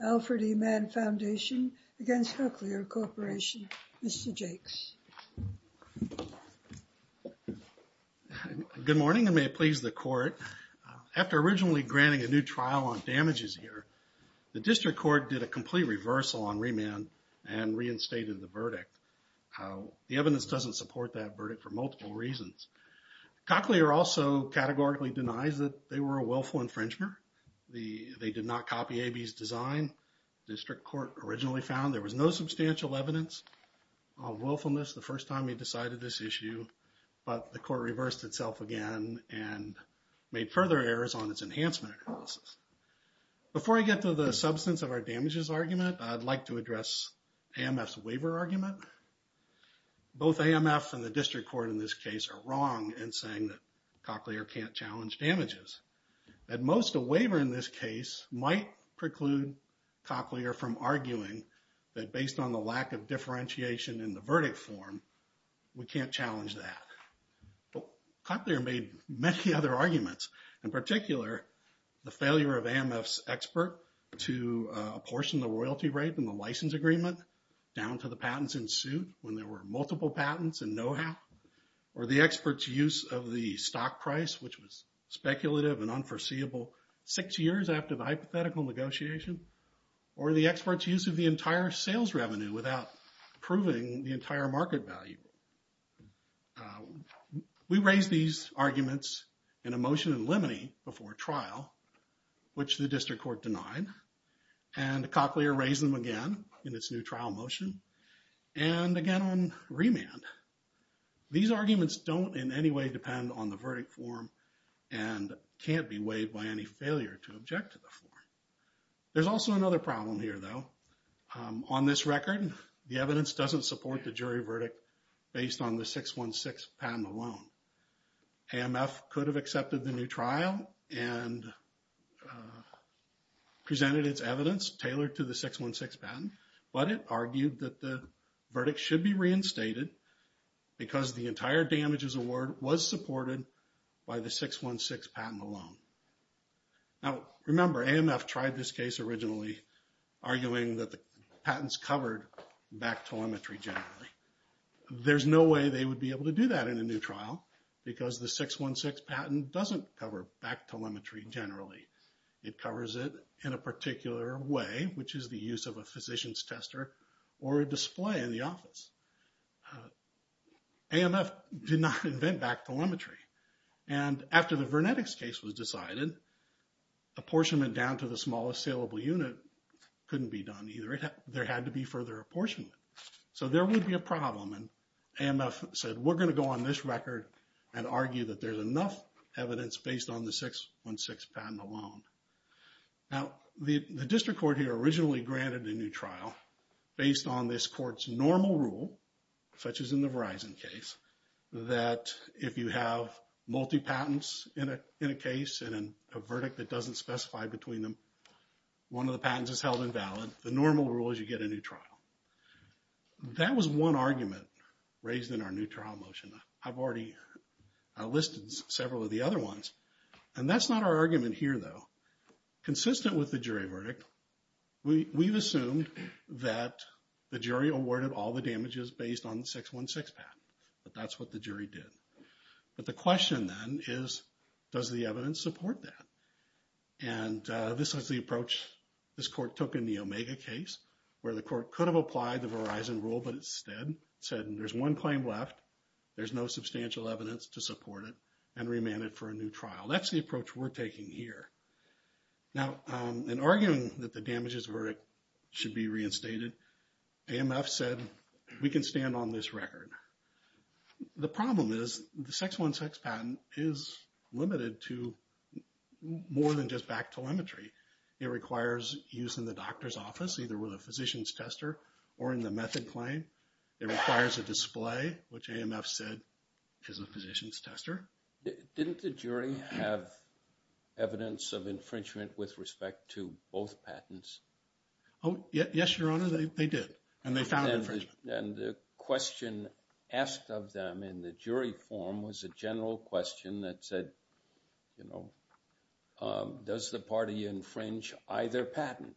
Alfred E. Mann Foundation v. Cochlear Corporation Mr. Jakes. Good morning and may it please the court. After originally granting a new trial on damages here, the district court did a complete reversal on remand and reinstated the verdict. The evidence doesn't support that verdict for multiple reasons. Cochlear also categorically denies that they were a willful infringement. They did not copy AB's design. The district court originally found there was no substantial evidence of willfulness the first time we decided this issue, but the court reversed itself again and made further errors on its enhancement analysis. Before I get to the substance of our damages argument, I'd like to address AMF's waiver argument. Both AMF and the district court in this case are wrong in saying that Cochlear can't challenge damages. At most, a waiver in this case might preclude Cochlear from arguing that based on the lack of differentiation in the verdict form, we can't challenge that. Cochlear made many other arguments, in particular the failure of AMF's expert to apportion the royalty rate in the license agreement down to the patents in suit when there were multiple patents and know-how, or the expert's use of the stock price, which was speculative and unforeseeable six years after the hypothetical negotiation, or the expert's use of the entire sales revenue without proving the entire market value. We raised these arguments in a motion in limine before trial, which the district court denied, and Cochlear raised them again in its new trial motion, and again on remand. These arguments don't in any way depend on the verdict form and can't be weighed by any failure to object to the form. There's also another problem here, though. On this record, the evidence doesn't support the jury verdict based on the 616 patent alone. AMF could have accepted the new trial and presented its evidence tailored to the 616 patent, but it argued that the verdict should be reinstated because the entire damages award was supported by the 616 patent alone. Now, remember, AMF tried this case originally, arguing that the patents covered back telemetry generally. There's no way they would be able to do that in a new trial because the 616 patent doesn't cover back telemetry generally. It covers it in a particular way, which is the use of a physician's tester or a display in the office. AMF did not invent back telemetry, and after the Vernetics case was decided, apportionment down to the smallest saleable unit couldn't be done either. There had to be further apportionment. So there would be a problem, and AMF said, we're going to go on this record and argue that there's enough evidence based on the 616 patent alone. Now, the district court here originally granted a new trial based on this court's normal rule, such as in the Verizon case, that if you have multi-patents in a case and a verdict that doesn't specify between them, one of the patents is held invalid. The normal rule is you get a new trial. That was one argument raised in our new trial motion. I've already listed several of the other ones, and that's not our argument here, though. Consistent with the jury verdict, we've assumed that the jury awarded all the damages based on the 616 patent, but that's what the jury did. But the question then is, does the evidence support that? And this was the approach this court took in the Omega case, where the court could have applied the Verizon rule, but instead said there's one claim left, there's no substantial evidence to support it, and remand it for a new trial. That's the approach we're taking here. Now, in arguing that the damages verdict should be reinstated, AMF said we can stand on this record. The problem is the 616 patent is limited to more than just back telemetry. It requires use in the doctor's office, either with a physician's tester or in the method claim. It requires a display, which AMF said is a physician's tester. Didn't the jury have evidence of infringement with respect to both patents? Oh, yes, Your Honor, they did, and they found infringement. And the question asked of them in the jury forum was a general question that said, you know, does the party infringe either patent?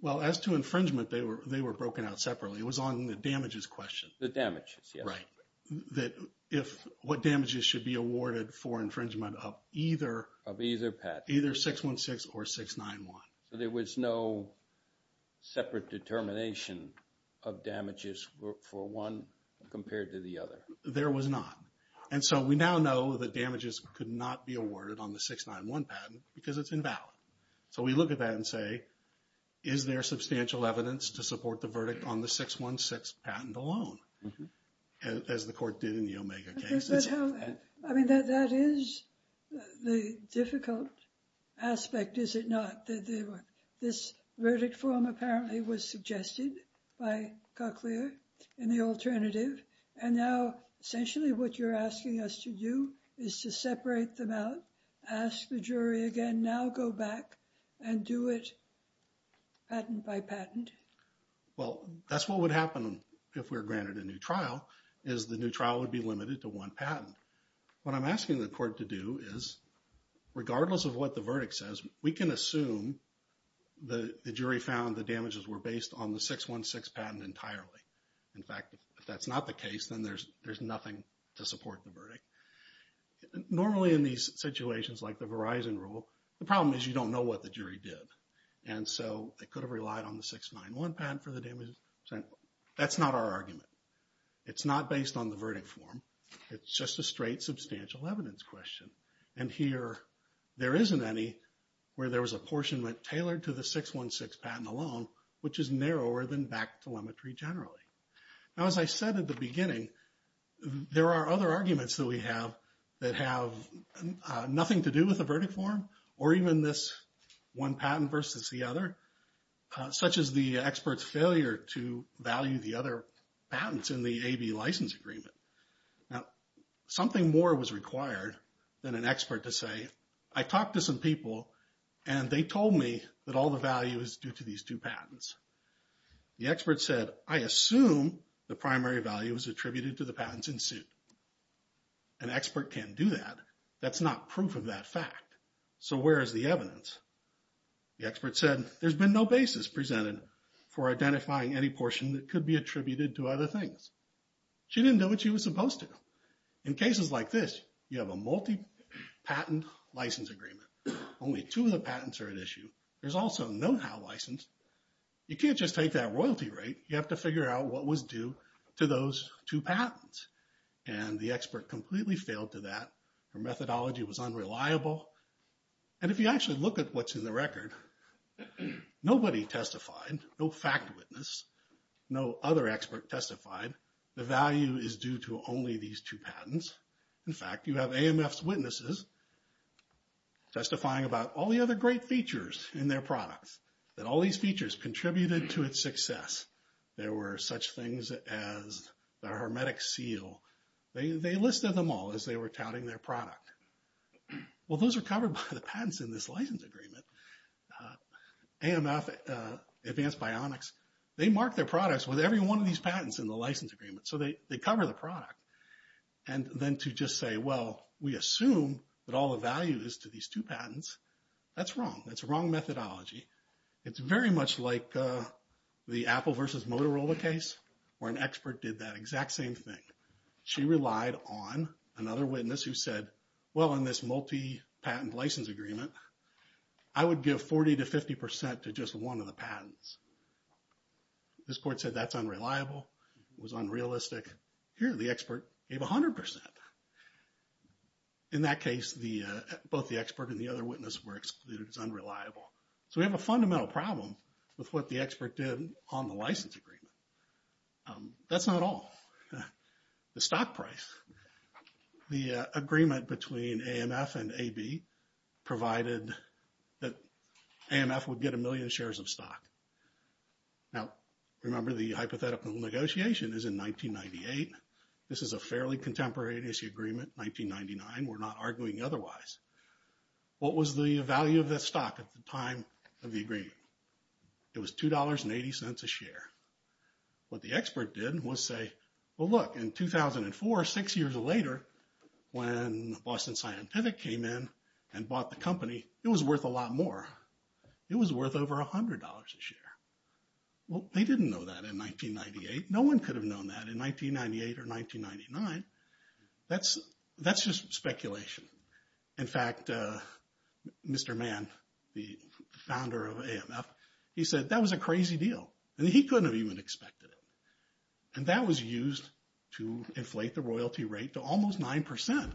Well, as to infringement, they were broken out separately. It was on the damages question. The damages, yes. Right. That if what damages should be awarded for infringement of either. Of either patent. Either 616 or 691. So there was no separate determination of damages for one compared to the other. There was not. And so we now know that damages could not be awarded on the 691 patent because it's invalid. So we look at that and say, is there substantial evidence to support the verdict on the 616 patent alone, as the court did in the Omega case? I mean, that is the difficult aspect, is it not? This verdict form apparently was suggested by Cochlear in the alternative, and now essentially what you're asking us to do is to separate them out, ask the jury again, now go back and do it patent by patent. Well, that's what would happen if we were granted a new trial, is the new trial would be limited to one patent. What I'm asking the court to do is, regardless of what the verdict says, we can assume the jury found the damages were based on the 616 patent entirely. In fact, if that's not the case, then there's nothing to support the verdict. Normally in these situations like the Verizon rule, the problem is you don't know what the jury did. And so they could have relied on the 691 patent for the damages. That's not our argument. It's not based on the verdict form. It's just a straight substantial evidence question. And here there isn't any where there was apportionment tailored to the 616 patent alone, which is narrower than back telemetry generally. Now, as I said at the beginning, there are other arguments that we have that have nothing to do with the verdict form or even this one patent versus the other, such as the expert's failure to value the other patents in the AB license agreement. Now, something more was required than an expert to say, I talked to some people and they told me that all the value is due to these two patents. The expert said, I assume the primary value is attributed to the patents in suit. An expert can't do that. That's not proof of that fact. So where is the evidence? The expert said, there's been no basis presented for identifying any portion that could be attributed to other things. She didn't know what she was supposed to know. In cases like this, you have a multi-patent license agreement. Only two of the patents are at issue. There's also a know-how license. You can't just take that royalty rate. You have to figure out what was due to those two patents. And the expert completely failed to that. Her methodology was unreliable. And if you actually look at what's in the record, nobody testified. No fact witness. No other expert testified. The value is due to only these two patents. In fact, you have AMF's witnesses testifying about all the other great features in their products, that all these features contributed to its success. There were such things as the hermetic seal. They listed them all as they were touting their product. Well, those are covered by the patents in this license agreement. AMF, Advanced Bionics, they mark their products with every one of these patents in the license agreement. So they cover the product. And then to just say, well, we assume that all the value is to these two patents, that's wrong. That's wrong methodology. It's very much like the Apple versus Motorola case where an expert did that exact same thing. She relied on another witness who said, well, in this multi-patent license agreement, I would give 40% to 50% to just one of the patents. This court said that's unreliable. It was unrealistic. Here, the expert gave 100%. In that case, both the expert and the other witness were excluded as unreliable. So we have a fundamental problem with what the expert did on the license agreement. That's not all. The stock price. The agreement between AMF and AB provided that AMF would get a million shares of stock. Now, remember, the hypothetical negotiation is in 1998. This is a fairly contemporaneous agreement, 1999. We're not arguing otherwise. What was the value of that stock at the time of the agreement? It was $2.80 a share. What the expert did was say, well, look, in 2004, six years later, when Boston Scientific came in and bought the company, it was worth a lot more. It was worth over $100 a share. Well, they didn't know that in 1998. No one could have known that in 1998 or 1999. That's just speculation. In fact, Mr. Mann, the founder of AMF, he said that was a crazy deal, and he couldn't have even expected it. And that was used to inflate the royalty rate to almost 9%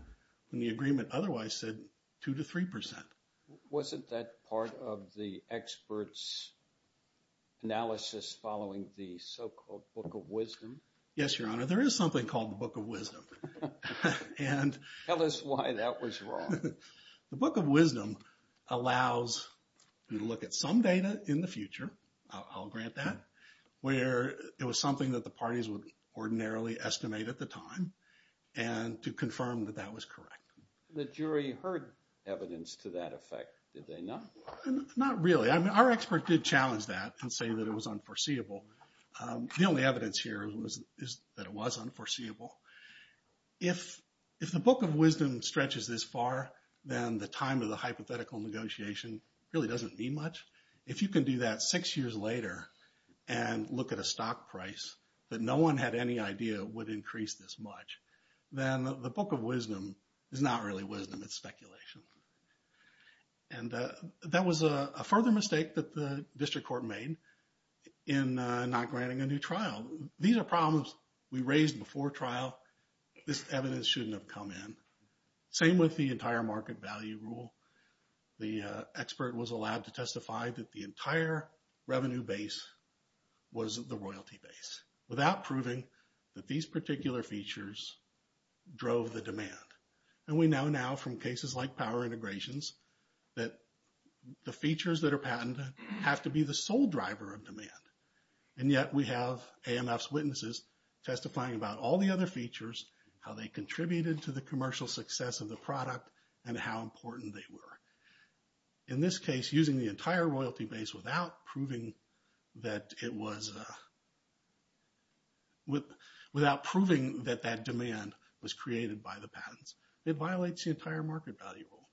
when the agreement otherwise said 2% to 3%. Wasn't that part of the expert's analysis following the so-called Book of Wisdom? Yes, Your Honor. There is something called the Book of Wisdom. Tell us why that was wrong. The Book of Wisdom allows you to look at some data in the future. I'll grant that. Where it was something that the parties would ordinarily estimate at the time and to confirm that that was correct. The jury heard evidence to that effect, did they not? Not really. Our expert did challenge that and say that it was unforeseeable. The only evidence here is that it was unforeseeable. If the Book of Wisdom stretches this far, then the time of the hypothetical negotiation really doesn't mean much. If you can do that six years later and look at a stock price that no one had any idea would increase this much, then the Book of Wisdom is not really wisdom. It's speculation. And that was a further mistake that the district court made in not granting a new trial. These are problems we raised before trial. This evidence shouldn't have come in. Same with the entire market value rule. The expert was allowed to testify that the entire revenue base was the royalty base without proving that these particular features drove the demand. And we know now from cases like power integrations that the features that are patented have to be the sole driver of demand. And yet we have AMF's witnesses testifying about all the other features, how they contributed to the commercial success of the product, and how important they were. In this case, using the entire royalty base without proving that that demand was created by the patents, it violates the entire market value rule.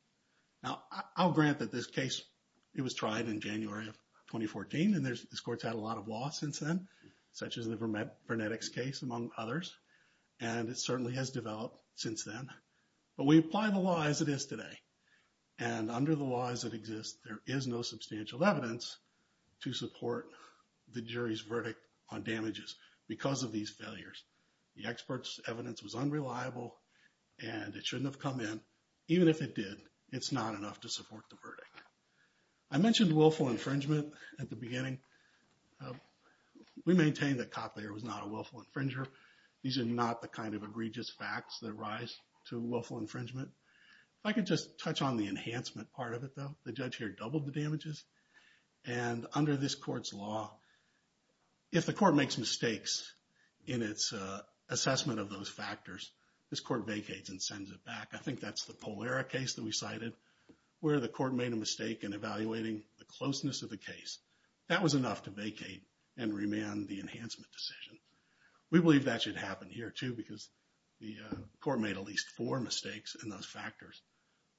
Now, I'll grant that this case, it was tried in January of 2014, and this court's had a lot of law since then, such as the Vernetics case, among others. And it certainly has developed since then. But we apply the law as it is today. And under the laws that exist, there is no substantial evidence to support the jury's verdict on damages because of these failures. The expert's evidence was unreliable, and it shouldn't have come in. Even if it did, it's not enough to support the verdict. I mentioned willful infringement at the beginning. We maintain that Cotlayer was not a willful infringer. These are not the kind of egregious facts that rise to willful infringement. If I could just touch on the enhancement part of it, though. The judge here doubled the damages. And under this court's law, if the court makes mistakes in its assessment of those factors, this court vacates and sends it back. I think that's the Polera case that we cited, where the court made a mistake in evaluating the closeness of the case. That was enough to vacate and remand the enhancement decision. We believe that should happen here, too, because the court made at least four mistakes in those factors.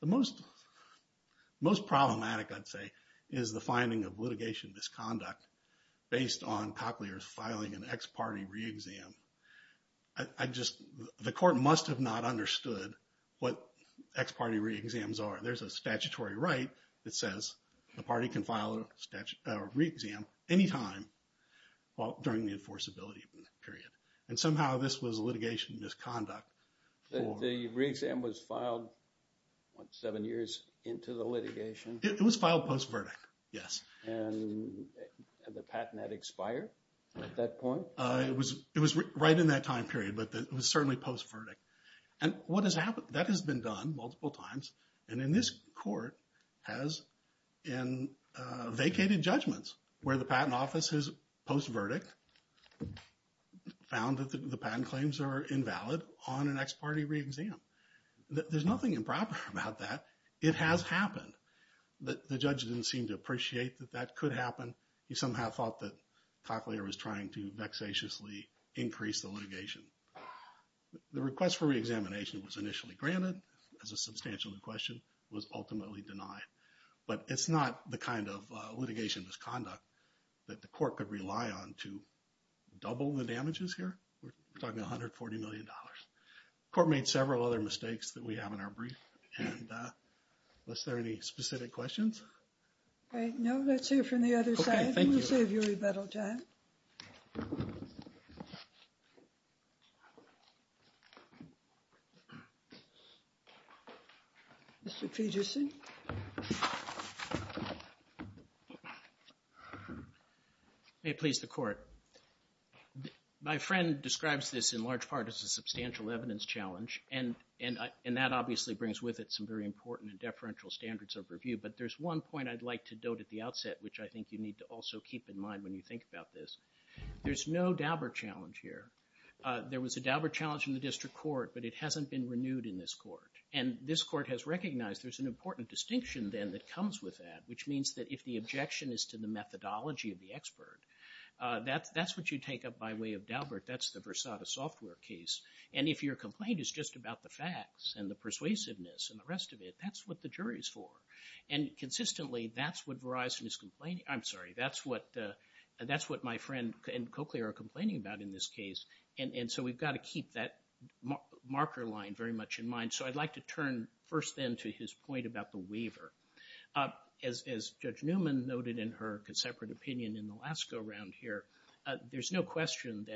The most problematic, I'd say, is the finding of litigation misconduct based on Cotlayer's filing an ex parte re-exam. The court must have not understood what ex parte re-exams are. There's a statutory right that says the party can file a re-exam anytime during the enforceability period. And somehow this was litigation misconduct. The re-exam was filed seven years into the litigation? It was filed post-verdict, yes. And the patent had expired at that point? It was right in that time period, but it was certainly post-verdict. And that has been done multiple times. And this court has vacated judgments where the patent office has post-verdict, found that the patent claims are invalid on an ex parte re-exam. There's nothing improper about that. It has happened. The judge didn't seem to appreciate that that could happen. He somehow thought that Cotlayer was trying to vexatiously increase the litigation. The request for re-examination was initially granted as a substantial question, was ultimately denied. But it's not the kind of litigation misconduct that the court could rely on to double the damages here. We're talking $140 million. The court made several other mistakes that we have in our brief. And was there any specific questions? No, let's hear from the other side. We'll save you a little time. Mr. Fidgeson? May it please the court. My friend describes this in large part as a substantial evidence challenge. And that obviously brings with it some very important and deferential standards of review. But there's one point I'd like to note at the outset, which I think you need to also keep in mind when you think about this. There's no Daubert challenge here. There was a Daubert challenge in the district court, but it hasn't been renewed in this court. And this court has recognized there's an important distinction then that comes with that, which means that if the objection is to the methodology of the expert, that's what you take up by way of Daubert. That's the Versada software case. And if your complaint is just about the facts and the persuasiveness and the rest of it, that's what the jury's for. And consistently, that's what Verizon is complaining about. I'm sorry, that's what my friend and Cochlear are complaining about in this case. And so we've got to keep that marker line very much in mind. So I'd like to turn first then to his point about the waiver. As Judge Newman noted in her separate opinion in the last go-round here, there's no question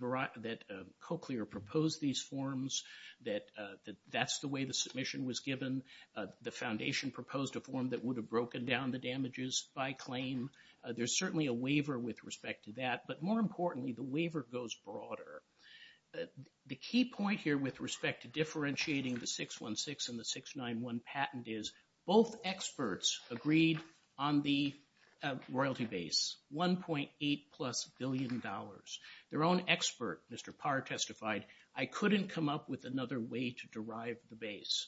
that Cochlear proposed these forms, that that's the way the submission was given. The foundation proposed a form that would have broken down the damages by claim. There's certainly a waiver with respect to that. But more importantly, the waiver goes broader. The key point here with respect to differentiating the 616 and the 691 patent is both experts agreed on the royalty base, $1.8-plus billion. Their own expert, Mr. Parr, testified, I couldn't come up with another way to derive the base.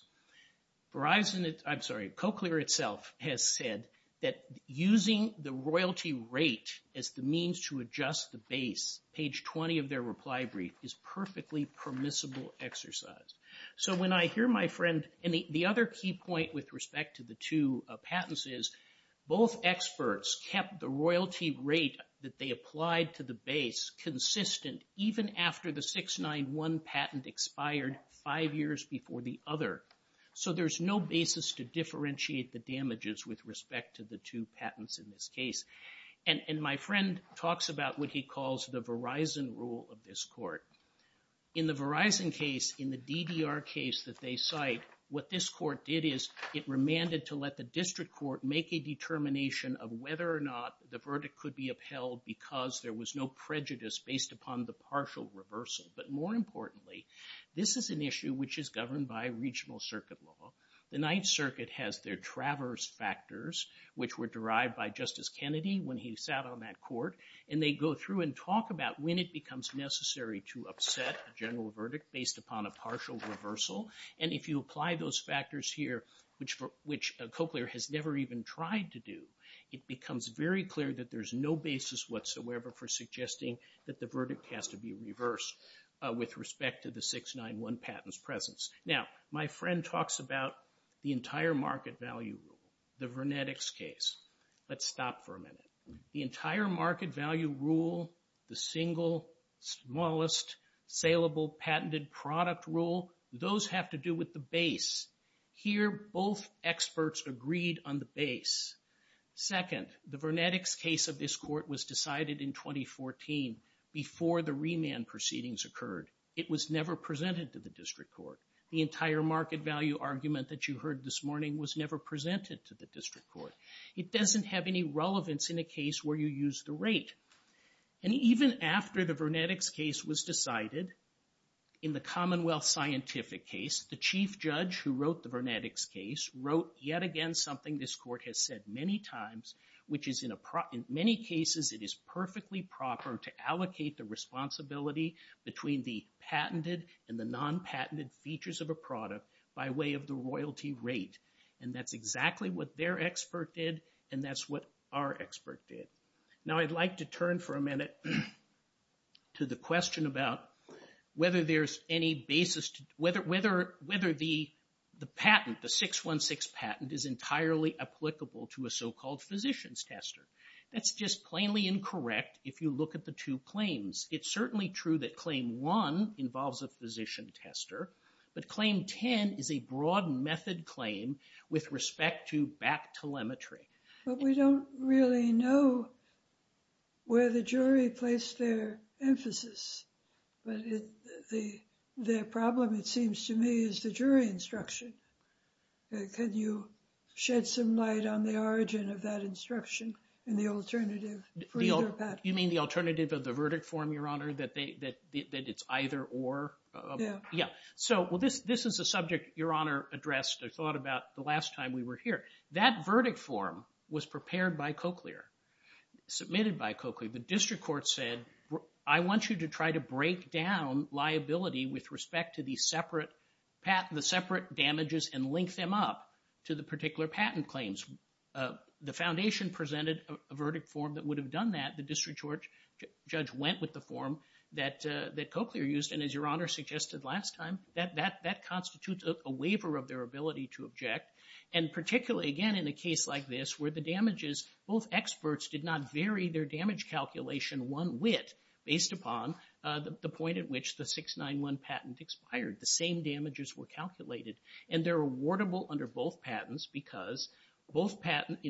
Verizon, I'm sorry, Cochlear itself has said that using the royalty rate as the means to adjust the base, page 20 of their reply brief, is perfectly permissible exercise. So when I hear my friend, and the other key point with respect to the two patents is both experts kept the royalty rate that they applied to the base consistent even after the 691 patent expired five years before the other. So there's no basis to differentiate the damages with respect to the two patents in this case. And my friend talks about what he calls the Verizon rule of this court. In the Verizon case, in the DDR case that they cite, what this court did is it remanded to let the district court make a determination of whether or not the verdict could be upheld because there was no prejudice based upon the partial reversal. But more importantly, this is an issue which is governed by regional circuit law. The Ninth Circuit has their traverse factors, which were derived by Justice Kennedy when he sat on that court. And they go through and talk about when it becomes necessary to upset a general verdict based upon a partial reversal. And if you apply those factors here, which Cochlear has never even tried to do, it becomes very clear that there's no basis whatsoever for suggesting that the verdict has to be reversed with respect to the 691 patent's presence. Now, my friend talks about the entire market value rule, the Vernetics case. Let's stop for a minute. The entire market value rule, the single smallest salable patented product rule, those have to do with the base. Here, both experts agreed on the base. Second, the Vernetics case of this court was decided in 2014 before the remand proceedings occurred. It was never presented to the district court. The entire market value argument that you heard this morning was never presented to the district court. It doesn't have any relevance in a case where you use the rate. And even after the Vernetics case was decided, in the Commonwealth Scientific case, the chief judge who wrote the Vernetics case wrote yet again something this court has said many times, which is in many cases it is perfectly proper to allocate the responsibility between the patented and the non-patented features of a product by way of the royalty rate. And that's exactly what their expert did, and that's what our expert did. Now, I'd like to turn for a minute to the question about whether the patent, the 616 patent, is entirely applicable to a so-called physician's tester. That's just plainly incorrect if you look at the two claims. It's certainly true that Claim 1 involves a physician tester, but Claim 10 is a broad method claim with respect to back telemetry. But we don't really know where the jury placed their emphasis. But the problem, it seems to me, is the jury instruction. Could you shed some light on the origin of that instruction and the alternative? You mean the alternative of the verdict form, Your Honor, that it's either or? Yeah. So this is a subject Your Honor addressed or thought about the last time we were here. That verdict form was prepared by Cochlear, submitted by Cochlear. The district court said, I want you to try to break down liability with respect to the separate damages and link them up to the particular patent claims. The foundation presented a verdict form that would have done that. The district judge went with the form that Cochlear used, and as Your Honor suggested last time, that constitutes a waiver of their ability to object. And particularly, again, in a case like this where the damages, both experts did not vary their damage calculation one whit based upon the point at which the 691 patent expired. The same damages were calculated, and they're awardable under both patents because both patents,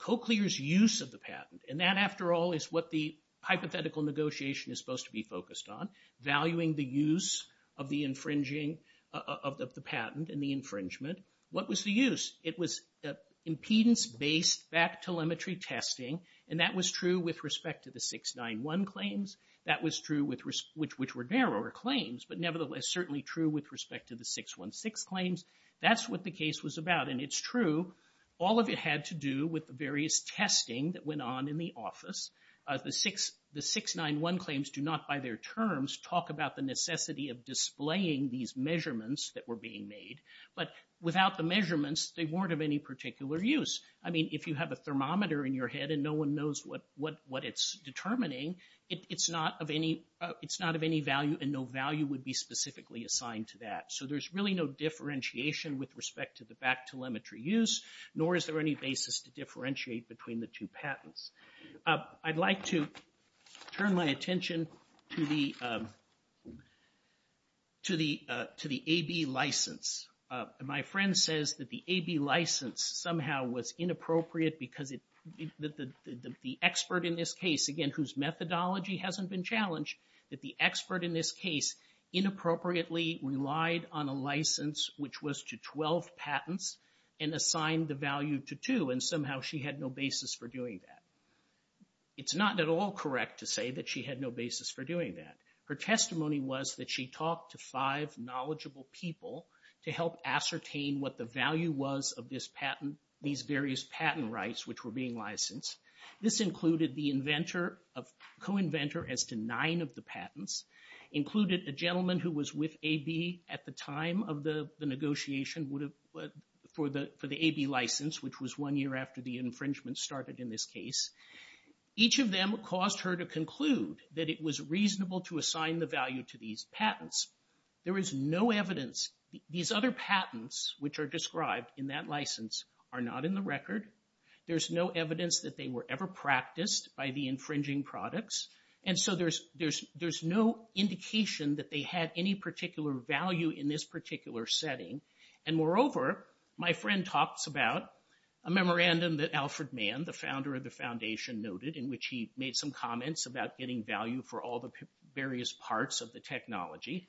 Cochlear's use of the patent, and that, after all, is what the hypothetical negotiation is supposed to be focused on, valuing the use of the infringing of the patent and the infringement. What was the use? It was impedance-based back telemetry testing, and that was true with respect to the 691 claims. That was true, which were narrower claims, but nevertheless certainly true with respect to the 616 claims. That's what the case was about, and it's true. All of it had to do with the various testing that went on in the office. The 691 claims do not, by their terms, talk about the necessity of displaying these measurements that were being made. But without the measurements, they weren't of any particular use. I mean, if you have a thermometer in your head and no one knows what it's determining, it's not of any value, and no value would be specifically assigned to that. So there's really no differentiation with respect to the back telemetry use, nor is there any basis to differentiate between the two patents. I'd like to turn my attention to the AB license. My friend says that the AB license somehow was inappropriate because the expert in this case, again, whose methodology hasn't been challenged, that the expert in this case inappropriately relied on a license, which was to 12 patents, and assigned the value to two, and somehow she had no basis for doing that. It's not at all correct to say that she had no basis for doing that. Her testimony was that she talked to five knowledgeable people to help ascertain what the value was of this patent, these various patent rights which were being licensed. This included the co-inventor as to nine of the patents, included a gentleman who was with AB at the time of the negotiation for the AB license, which was one year after the infringement started in this case. Each of them caused her to conclude that it was reasonable to assign the value to these patents. There is no evidence. These other patents, which are described in that license, are not in the record. There's no evidence that they were ever practiced by the infringing products, and so there's no indication that they had any particular value in this particular setting. And moreover, my friend talks about a memorandum that Alfred Mann, the founder of the foundation, noted, in which he made some comments about getting value for all the various parts of the technology.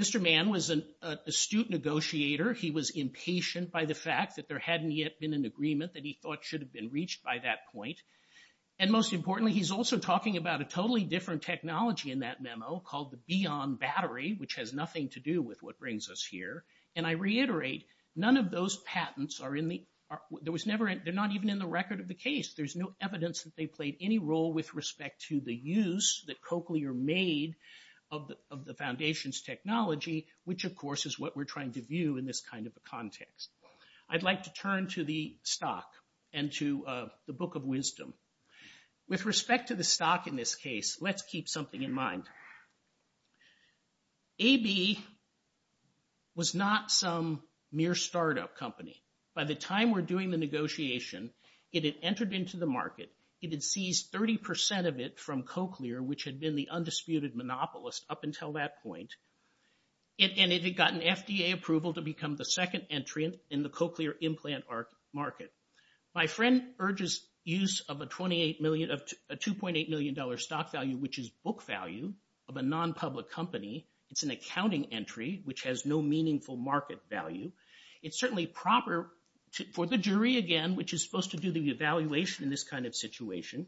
Mr. Mann was an astute negotiator. He was impatient by the fact that there hadn't yet been an agreement that he thought should have been reached by that point. And most importantly, he's also talking about a totally different technology in that memo called the Bion battery, which has nothing to do with what brings us here. And I reiterate, none of those patents are in the... There was never... They're not even in the record of the case. There's no evidence that they played any role with respect to the use that Cochlear made of the foundation's technology, which, of course, is what we're trying to view in this kind of a context. I'd like to turn to the stock and to the book of wisdom. With respect to the stock in this case, let's keep something in mind. AB was not some mere startup company. By the time we're doing the negotiation, it had entered into the market. It had seized 30% of it from Cochlear, which had been the undisputed monopolist up until that point. And it had gotten FDA approval to become the second entry in the Cochlear implant market. My friend urges use of a $2.8 million stock value, which is book value of a non-public company. It's an accounting entry, which has no meaningful market value. It's certainly proper for the jury, again, which is supposed to do the evaluation in this kind of situation,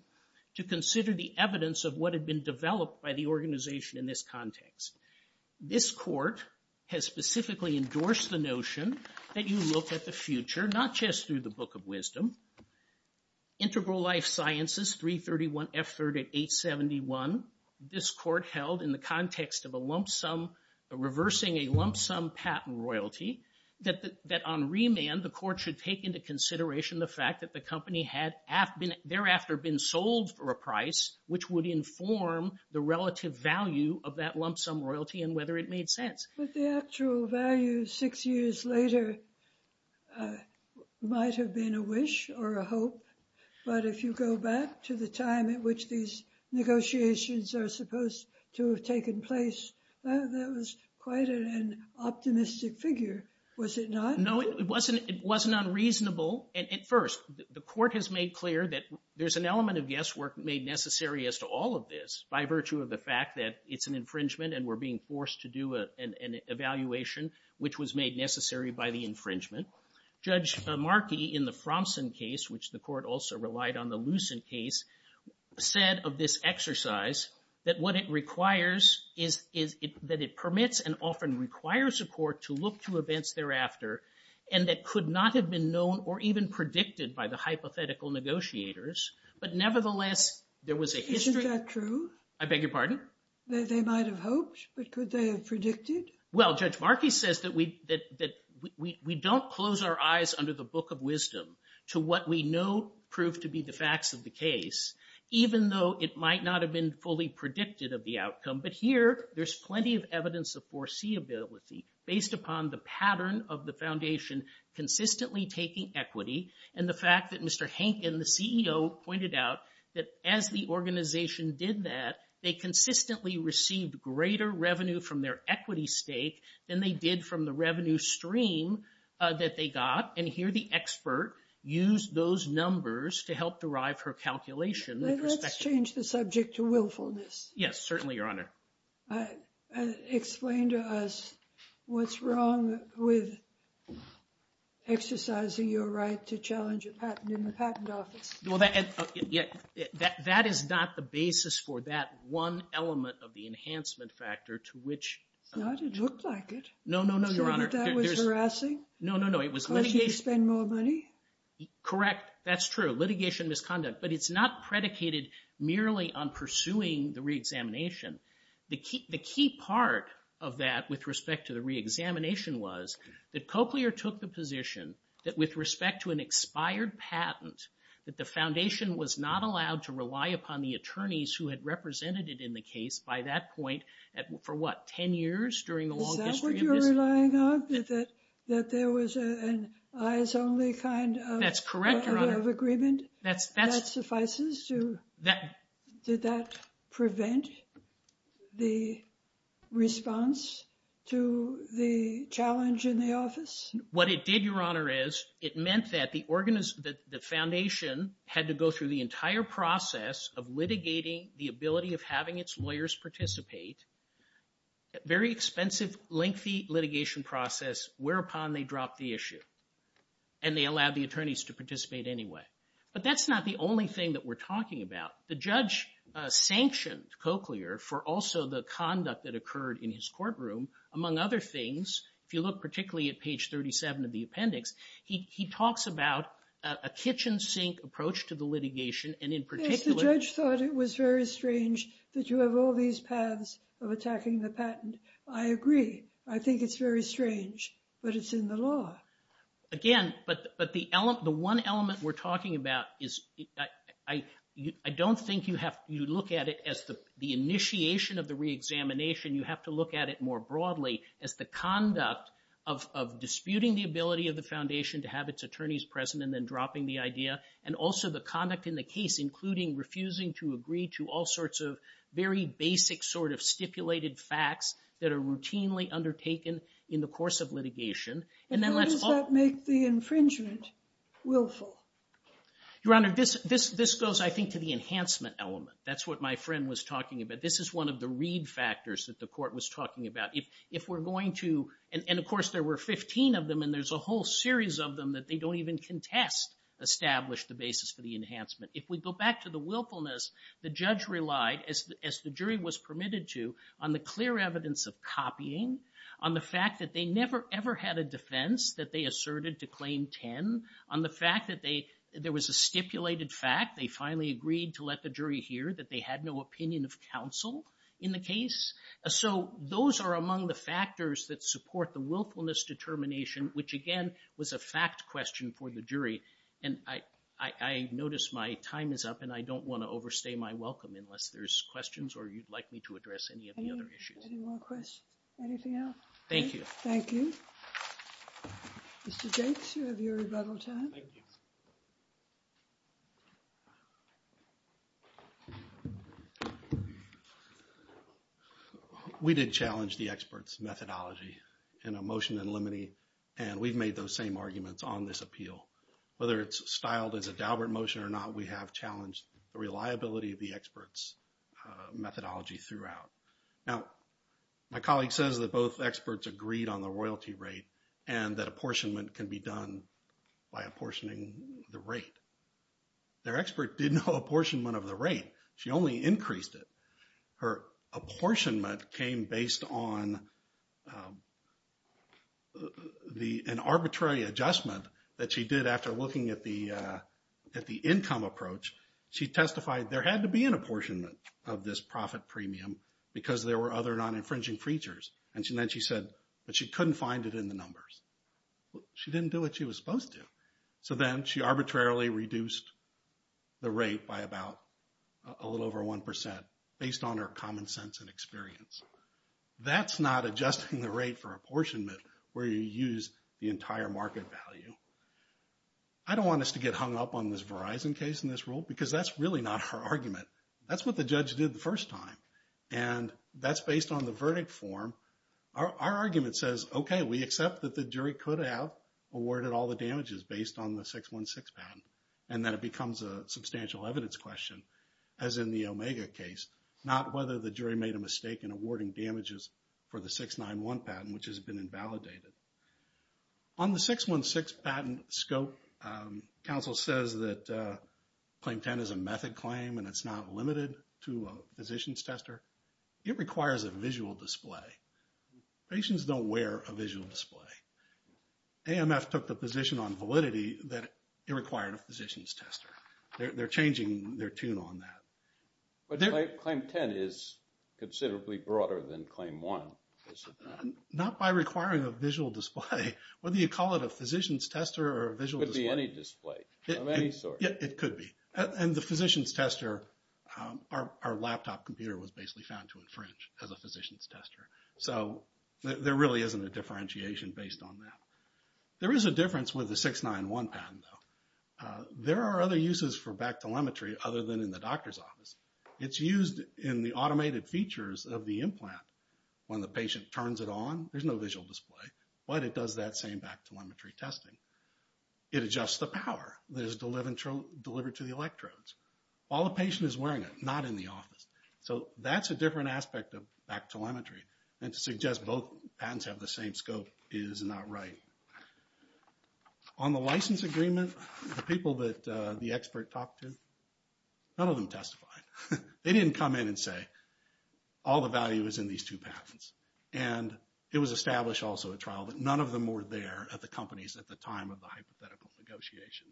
to consider the evidence of what had been developed by the organization in this context. This court has specifically endorsed the notion that you look at the future, not just through the book of wisdom. Integral Life Sciences, 331F3871. This court held in the context of a lump sum, reversing a lump sum patent royalty, that on remand, the court should take into consideration the fact that the company had thereafter been sold for a price, which would inform the relative value of that lump sum royalty and whether it made sense. But the actual value six years later might have been a wish or a hope, but if you go back to the time at which these negotiations are supposed to have taken place, that was quite an optimistic figure, was it not? No, it wasn't unreasonable. At first, the court has made clear that there's an element of guesswork made necessary as to all of this by virtue of the fact that it's an infringement and we're being forced to do an evaluation, which was made necessary by the infringement. Judge Markey, in the Fromsen case, which the court also relied on the Lucent case, said of this exercise that what it requires is that it permits and often requires a court to look to events thereafter and that could not have been known or even predicted by the hypothetical negotiators, but nevertheless, there was a history... Isn't that true? I beg your pardon? They might have hoped, but could they have predicted? Well, Judge Markey says that we don't close our eyes under the book of wisdom to what we know proved to be the facts of the case, even though it might not have been fully predicted of the outcome. But here, there's plenty of evidence of foreseeability based upon the pattern of the Foundation consistently taking equity and the fact that Mr. Hankin, the CEO, pointed out that as the organization did that, they consistently received greater revenue from their equity stake than they did from the revenue stream that they got. And here, the expert used those numbers to help derive her calculation. Let's change the subject to willfulness. Yes, certainly, Your Honor. Explain to us what's wrong with exercising your right to challenge a patent in the Patent Office. Well, that is not the basis for that one element of the enhancement factor to which... It's not? It looked like it. No, no, no, Your Honor. You're sure that that was harassing? No, no, no. It was litigation... Caused you to spend more money? Correct. That's true. Litigation misconduct. But it's not predicated merely on pursuing the reexamination. The key part of that with respect to the reexamination was that Cochlear took the position that with respect to an expired patent that the Foundation was not allowed to rely upon the attorneys who had represented it in the case by that point for, what, 10 years during the long history of this... Is that what you're relying on? That there was an eyes-only kind of agreement? That's correct, Your Honor. That suffices to... Did that prevent the response to the challenge in the office? What it did, Your Honor, is it meant that the Foundation had to go through the entire process of litigating the ability of having its lawyers participate, a very expensive, lengthy litigation process, whereupon they dropped the issue, and they allowed the attorneys to participate anyway. But that's not the only thing that we're talking about. The judge sanctioned Cochlear for also the conduct that occurred in his courtroom. Among other things, if you look particularly at page 37 of the appendix, he talks about a kitchen sink approach to the litigation, and in particular... Yes, the judge thought it was very strange that you have all these paths of attacking the patent. I agree. I think it's very strange, but it's in the law. Again, but the one element we're talking about is... I don't think you have to look at it as the initiation of the reexamination. You have to look at it more broadly as the conduct of disputing the ability of the foundation to have its attorneys present and then dropping the idea, and also the conduct in the case, including refusing to agree to all sorts of very basic sort of stipulated facts that are routinely undertaken in the course of litigation. And then let's... How does that make the infringement willful? Your Honor, this goes, I think, to the enhancement element. That's what my friend was talking about. This is one of the read factors that the court was talking about. If we're going to... And, of course, there were 15 of them, and there's a whole series of them that they don't even contest establish the basis for the enhancement. If we go back to the willfulness, the judge relied, as the jury was permitted to, on the clear evidence of copying, on the fact that they never, ever had a defense that they asserted to Claim 10, on the fact that there was a stipulated fact, they finally agreed to let the jury hear that they had no opinion of counsel in the case. So those are among the factors that support the willfulness determination, which, again, was a fact question for the jury. And I notice my time is up, and I don't want to overstay my welcome unless there's questions or you'd like me to address any of the other issues. Any more questions? Anything else? Thank you. Thank you. Mr. Jakes, you have your rebuttal time. Thank you. We did challenge the expert's methodology in a motion in limine, and we've made those same arguments on this appeal. Whether it's styled as a Daubert motion or not, we have challenged the reliability of the expert's methodology throughout. Now, my colleague says that both experts agreed on the royalty rate, and that apportionment can be done by apportioning the rate. Their expert did no apportionment of the rate. She only increased it. Her apportionment came based on an arbitrary adjustment that she did after looking at the income approach. She testified there had to be an apportionment of this profit premium because there were other non-infringing features. And then she said, but she couldn't find it in the numbers. She didn't do what she was supposed to. So then she arbitrarily reduced the rate by about a little over 1%, based on her common sense and experience. That's not adjusting the rate for apportionment where you use the entire market value. I don't want us to get hung up on this Verizon case in this rule because that's really not her argument. That's what the judge did the first time, and that's based on the verdict form. Our argument says, okay, we accept that the jury could have awarded all the damages based on the 616 patent, and then it becomes a substantial evidence question, as in the Omega case, not whether the jury made a mistake in awarding damages for the 691 patent, which has been invalidated. On the 616 patent scope, counsel says that Claim 10 is a method claim and it's not limited to a physician's tester. It requires a visual display. Patients don't wear a visual display. AMF took the position on validity that it required a physician's tester. They're changing their tune on that. But Claim 10 is considerably broader than Claim 1, is it not? Not by requiring a visual display. Whether you call it a physician's tester or a visual display. It could be any display of any sort. It could be. And the physician's tester, our laptop computer was basically found to infringe as a physician's tester. So there really isn't a differentiation based on that. There is a difference with the 691 patent, though. There are other uses for back telemetry other than in the doctor's office. It's used in the automated features of the implant. When the patient turns it on, there's no visual display. But it does that same back telemetry testing. It adjusts the power that is delivered to the electrodes. While the patient is wearing it, not in the office. So that's a different aspect of back telemetry. And to suggest both patents have the same scope is not right. On the license agreement, the people that the expert talked to, none of them testified. They didn't come in and say, all the value is in these two patents. And it was established also at trial that none of them were there at the companies at the time of the hypothetical negotiation.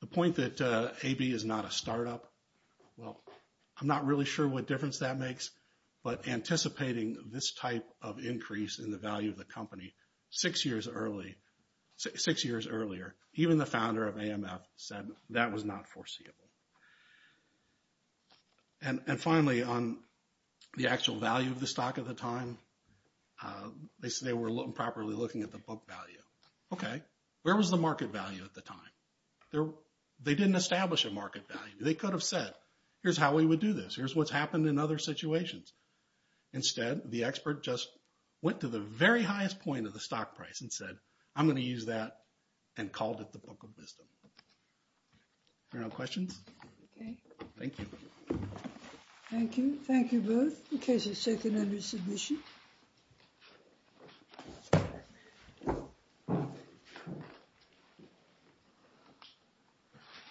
The point that AB is not a startup, well, I'm not really sure what difference that makes. But anticipating this type of increase in the value of the company six years earlier, even the founder of AMF said that was not foreseeable. And finally, on the actual value of the stock at the time, they said they were improperly looking at the book value. Okay, where was the market value at the time? They didn't establish a market value. They could have said, here's how we would do this. Here's what's happened in other situations. Instead, the expert just went to the very highest point of the stock price and said, I'm going to use that and called it the book of wisdom. Any questions? Okay. Thank you. Thank you. Thank you both. Okay, so second under submission.